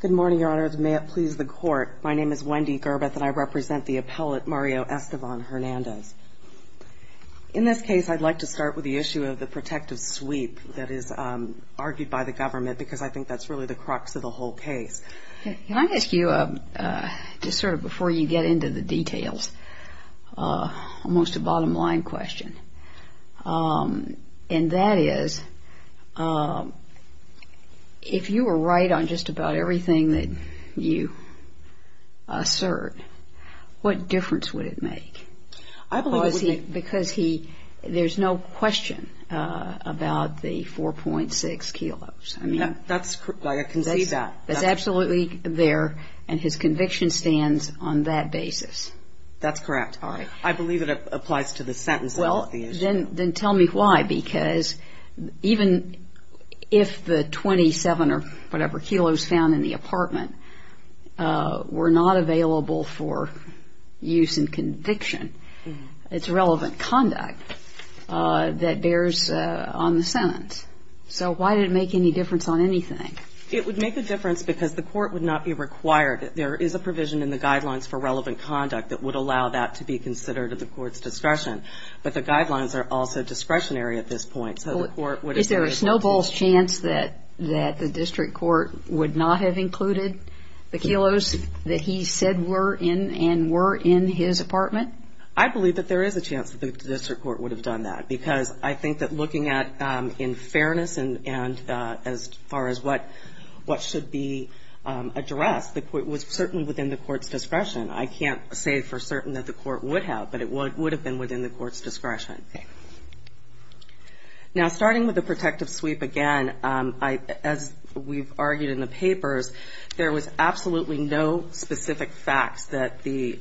Good morning, Your Honor. May it please the Court, my name is Wendy Gerbeth and I represent the appellate Mario Estevan-Hernandez. In this case, I'd like to start with the issue of the protective sweep that is argued by the government because I think that's really the crux of the whole case. Can I ask you, just sort of before you get into the details, almost a bottom line question? And that is, if you were right on just about everything that you assert, what difference would it make? I believe it would make... Because he, there's no question about the 4.6 kilos. That's, I can see that. That's absolutely there and his conviction stands on that basis. That's correct. I believe it applies to the sentence. Well, then tell me why, because even if the 27 or whatever kilos found in the apartment were not available for use in conviction, it's relevant conduct that bears on the sentence. So why did it make any difference on anything? It would make a difference because the court would not be required. There is a provision in the guidelines for relevant conduct that would allow that to be considered at the court's discretion. But the guidelines are also discretionary at this point, so the court would... Is there a snowball's chance that the district court would not have included the kilos that he said were in and were in his apartment? I believe that there is a chance that the district court would have done that, because I think that looking at in fairness and as far as what should be addressed, it was certainly within the court's discretion. I can't say for certain that the court would have, but it would have been within the court's discretion. Okay. Now, starting with the protective sweep again, as we've argued in the papers, there was absolutely no specific facts that the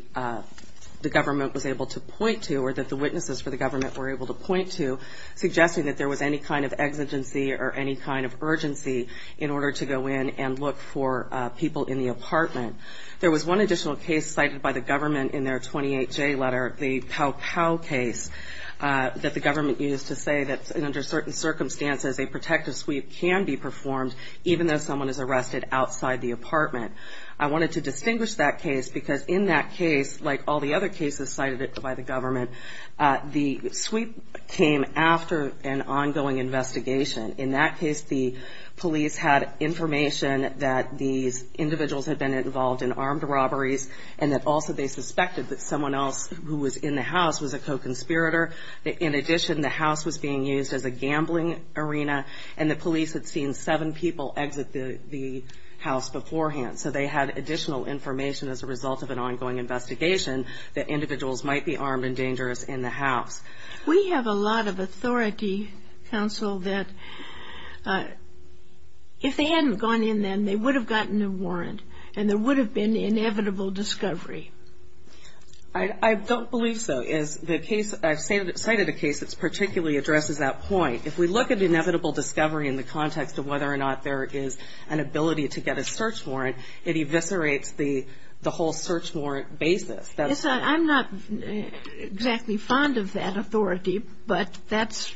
government was able to point to or that the witnesses for the government were able to point to suggesting that there was any kind of exigency or any kind of urgency in order to go in and look for people in the apartment. There was one additional case cited by the government in their 28J letter, the Pow Pow case, that the government used to say that under certain circumstances a protective sweep can be performed, even though someone is arrested outside the apartment. I wanted to distinguish that case because in that case, like all the other cases cited by the government, the sweep came after an ongoing investigation. In that case, the police had information that these individuals had been involved in armed robberies and that also they suspected that someone else who was in the house was a co-conspirator. In addition, the house was being used as a gambling arena, and the police had seen seven people exit the house beforehand. So they had additional information as a result of an ongoing investigation that individuals might be armed and dangerous in the house. We have a lot of authority, counsel, that if they hadn't gone in then, they would have gotten a warrant, and there would have been inevitable discovery. I don't believe so. I've cited a case that particularly addresses that point. If we look at inevitable discovery in the context of whether or not there is an ability to get a search warrant, it eviscerates the whole search warrant basis. Yes, I'm not exactly fond of that authority, but that's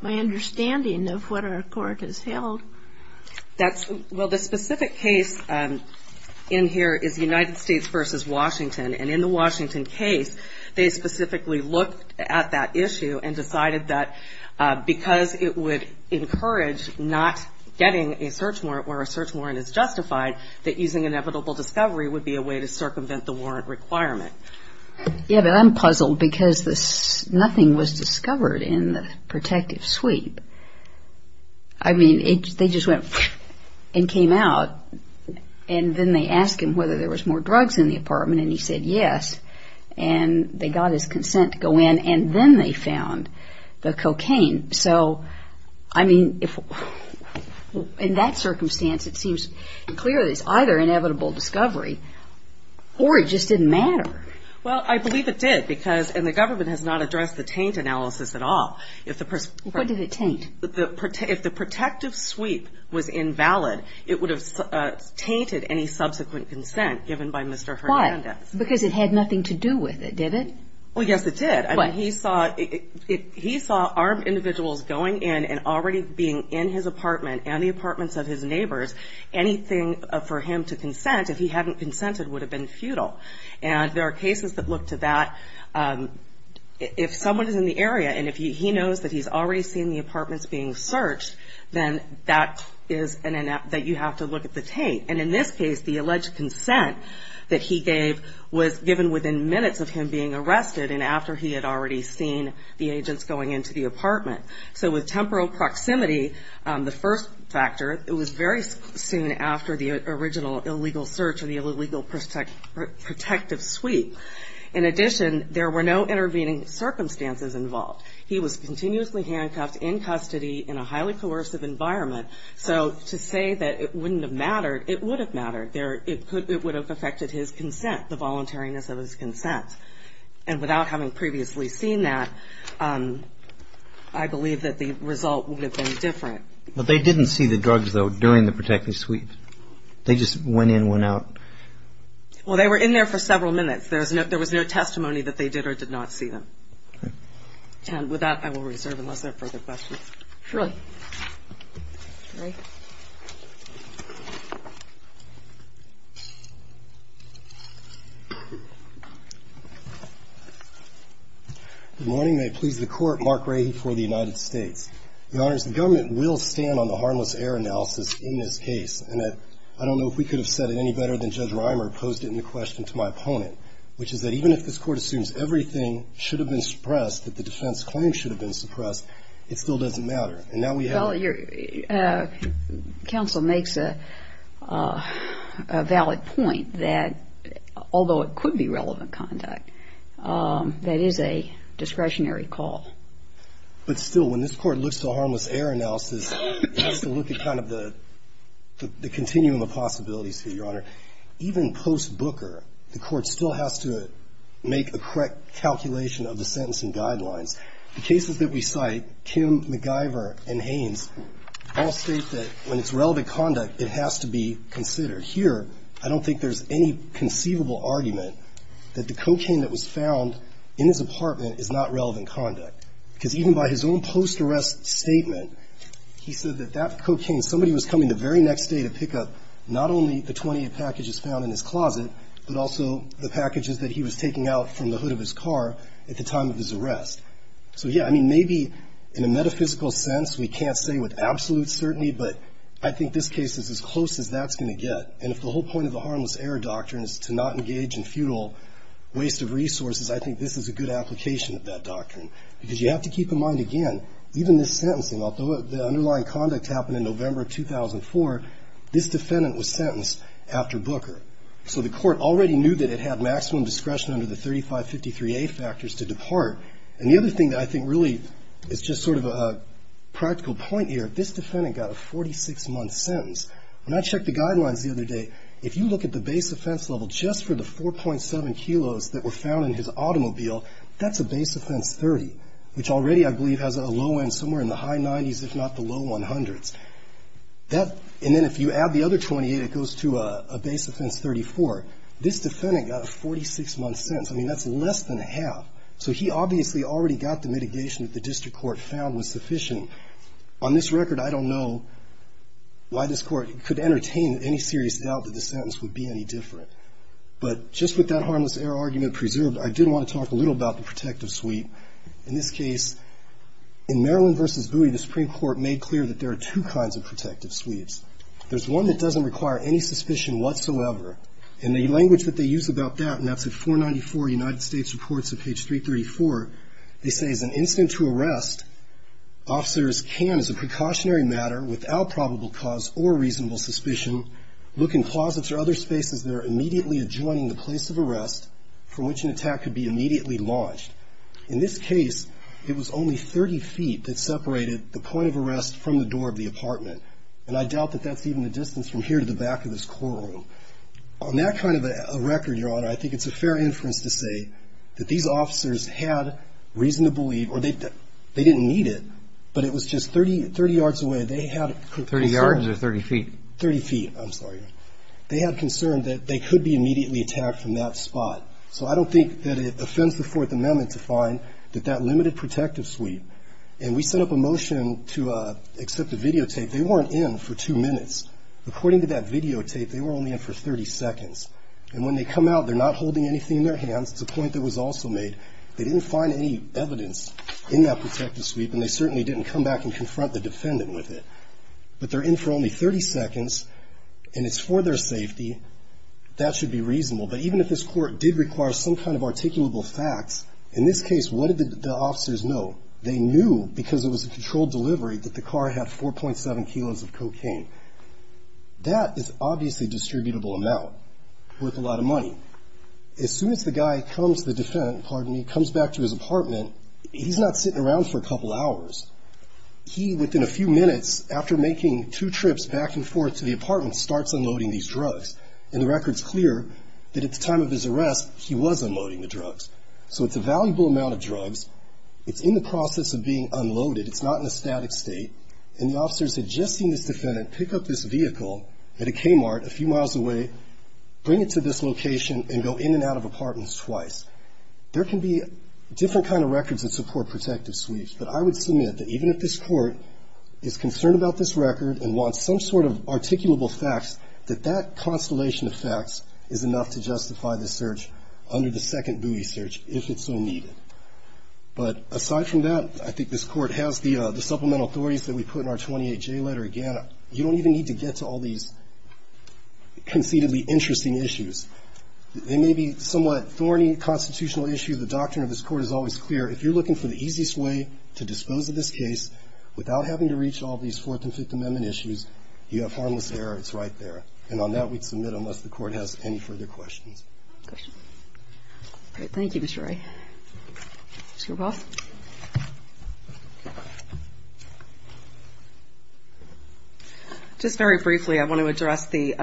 my understanding of what our court has held. Well, the specific case in here is United States v. Washington, and in the Washington case, they specifically looked at that issue and decided that because it would encourage not getting a search warrant where a search warrant is justified, that using inevitable discovery would be a way to circumvent the warrant requirement. Yes, but I'm puzzled because nothing was discovered in the protective sweep. I mean, they just went and came out, and then they asked him whether there was more drugs in the apartment, and he said yes, and they got his consent to go in, and then they found the cocaine. So, I mean, in that circumstance, it seems clear that it's either inevitable discovery or it just didn't matter. Well, I believe it did because, and the government has not addressed the taint analysis at all. What did it taint? If the protective sweep was invalid, it would have tainted any subsequent consent given by Mr. Hernandez. Why? Because it had nothing to do with it, did it? Well, yes, it did. I mean, he saw armed individuals going in and already being in his apartment and the apartments of his neighbors, anything for him to consent, if he hadn't consented, would have been futile. And there are cases that look to that. If someone is in the area, and if he knows that he's already seen the apartments being searched, then that is that you have to look at the taint. And in this case, the alleged consent that he gave was given within minutes of him being arrested and after he had already seen the agents going into the apartment. So with temporal proximity, the first factor, it was very soon after the original illegal search and the illegal protective sweep. In addition, there were no intervening circumstances involved. He was continuously handcuffed in custody in a highly coercive environment. So to say that it wouldn't have mattered, it would have mattered. It would have affected his consent, the voluntariness of his consent. And without having previously seen that, I believe that the result would have been different. But they didn't see the drugs, though, during the protective sweep? They just went in, went out? Well, they were in there for several minutes. There was no testimony that they did or did not see them. Okay. And with that, I will reserve unless there are further questions. Surely. All right. Good morning. May it please the Court. Mark Rahy for the United States. Your Honors, the government will stand on the harmless error analysis in this case. And I don't know if we could have said it any better than Judge Reimer posed it in the question to my opponent, which is that even if this Court assumes everything should have been suppressed, that the defense claim should have been suppressed, it still doesn't matter. And now we have a ---- Well, your counsel makes a valid point that although it could be relevant conduct, that is a discretionary call. But still, when this Court looks to a harmless error analysis, it has to look at kind of the continuum of possibilities here, your Honor. Even post-Booker, the Court still has to make a correct calculation of the sentencing guidelines. The cases that we cite, Kim, MacGyver, and Haynes, all state that when it's relevant conduct, it has to be considered. Here, I don't think there's any conceivable argument that the cocaine that was found in his apartment is not relevant conduct. Because even by his own post-arrest statement, he said that that cocaine, somebody was coming the very next day to pick up not only the 28 packages found in his closet, but also the packages that he was taking out from the hood of his car at the time of his arrest. So, yeah, I mean, maybe in a metaphysical sense, we can't say with absolute certainty, but I think this case is as close as that's going to get. And if the whole point of the harmless error doctrine is to not engage in futile waste of resources, I think this is a good application of that doctrine. Because you have to keep in mind, again, even this sentencing, although the underlying conduct happened in November of 2004, this defendant was sentenced after Booker. So the Court already knew that it had maximum discretion under the 3553A factors to depart. And the other thing that I think really is just sort of a practical point here, this defendant got a 46-month sentence. When I checked the guidelines the other day, if you look at the base offense level just for the 4.7 kilos that were found in his automobile, that's a base offense 30, which already, I believe, has a low end somewhere in the high 90s, if not the low 100s. And then if you add the other 28, it goes to a base offense 34. This defendant got a 46-month sentence. I mean, that's less than half. So he obviously already got the mitigation that the district court found was sufficient. And on this record, I don't know why this Court could entertain any serious doubt that the sentence would be any different. But just with that harmless error argument preserved, I did want to talk a little about the protective suite. In this case, in Maryland v. Booty, the Supreme Court made clear that there are two kinds of protective suites. There's one that doesn't require any suspicion whatsoever. And the language that they use about that, and that's at 494 United States Reports of page 334, they say, as an incident to arrest, officers can, as a precautionary matter, without probable cause or reasonable suspicion, look in closets or other spaces that are immediately adjoining the place of arrest from which an attack could be immediately launched. In this case, it was only 30 feet that separated the point of arrest from the door of the apartment. And I doubt that that's even the distance from here to the back of this courtroom. On that kind of a record, Your Honor, I think it's a fair inference to say that these officers had reason to believe, or they didn't need it, but it was just 30 yards away. They had concern. 30 yards or 30 feet? 30 feet, I'm sorry. They had concern that they could be immediately attacked from that spot. So I don't think that it offends the Fourth Amendment to find that that limited protective suite, and we set up a motion to accept a videotape. They weren't in for two minutes. According to that videotape, they were only in for 30 seconds. And when they come out, they're not holding anything in their hands. It's a point that was also made. They didn't find any evidence in that protective suite, and they certainly didn't come back and confront the defendant with it. But they're in for only 30 seconds, and it's for their safety. That should be reasonable. But even if this court did require some kind of articulable facts, in this case, what did the officers know? They knew because it was a controlled delivery that the car had 4.7 kilos of cocaine. That is obviously a distributable amount worth a lot of money. As soon as the guy comes to the defendant, pardon me, comes back to his apartment, he's not sitting around for a couple hours. He, within a few minutes, after making two trips back and forth to the apartment, starts unloading these drugs. And the record's clear that at the time of his arrest, he was unloading the drugs. So it's a valuable amount of drugs. It's in the process of being unloaded. It's not in a static state. And the officers had just seen this defendant pick up this vehicle at a Kmart a few miles away, bring it to this location, and go in and out of apartments twice. There can be different kind of records that support protective sweeps. But I would submit that even if this court is concerned about this record and wants some sort of articulable facts, that that constellation of facts is enough to justify the search under the second buoy search, if it's so needed. But aside from that, I think this court has the supplemental authorities that we put in our 28J letter. Again, you don't even need to get to all these conceitedly interesting issues. They may be somewhat thorny constitutional issues. The doctrine of this Court is always clear. If you're looking for the easiest way to dispose of this case without having to reach all these Fourth and Fifth Amendment issues, you have harmless error. It's right there. And on that, we'd submit unless the Court has any further questions. Kagan. All right. Thank you, Mr. Ray. Ms. Garboff. Just very briefly, I want to address the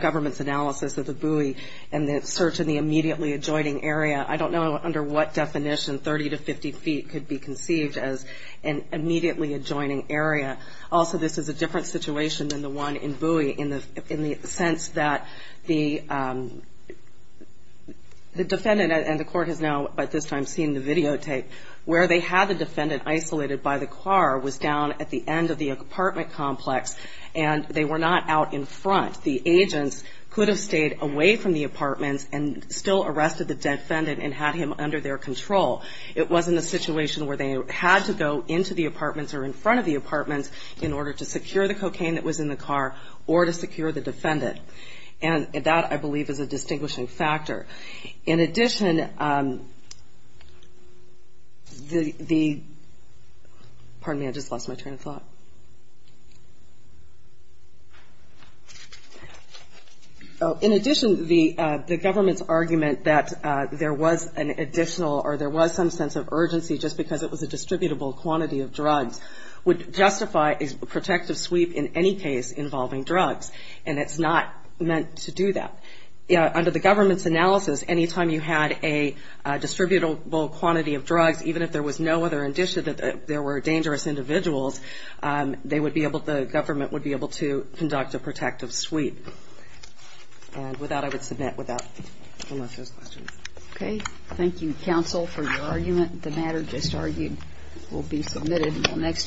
government's analysis of the buoy and the search in the immediately adjoining area. I don't know under what definition 30 to 50 feet could be conceived as an immediately adjoining area. Also, this is a different situation than the one in buoy in the sense that the defendant and the court has now, by this time, seen the videotape, where they had the defendant isolated by the car was down at the end of the apartment complex and they were not out in front. The agents could have stayed away from the apartments and still arrested the defendant and had him under their control. It wasn't a situation where they had to go into the apartments or in front of the apartments in order to secure the cocaine that was in the car or to secure the defendant. And that, I believe, is a distinguishing factor. In addition, the government's argument that there was an additional or there was some sense of urgency just because it was a distributable quantity of drugs would justify a protective sweep in any case involving drugs, and it's not meant to do that. Under the government's analysis, any time you had a distributable quantity of drugs, even if there was no other indicia that there were dangerous individuals, the government would be able to conduct a protective sweep. And with that, I would submit. Okay. Thank you, counsel, for your argument. The matter just argued will be submitted next year.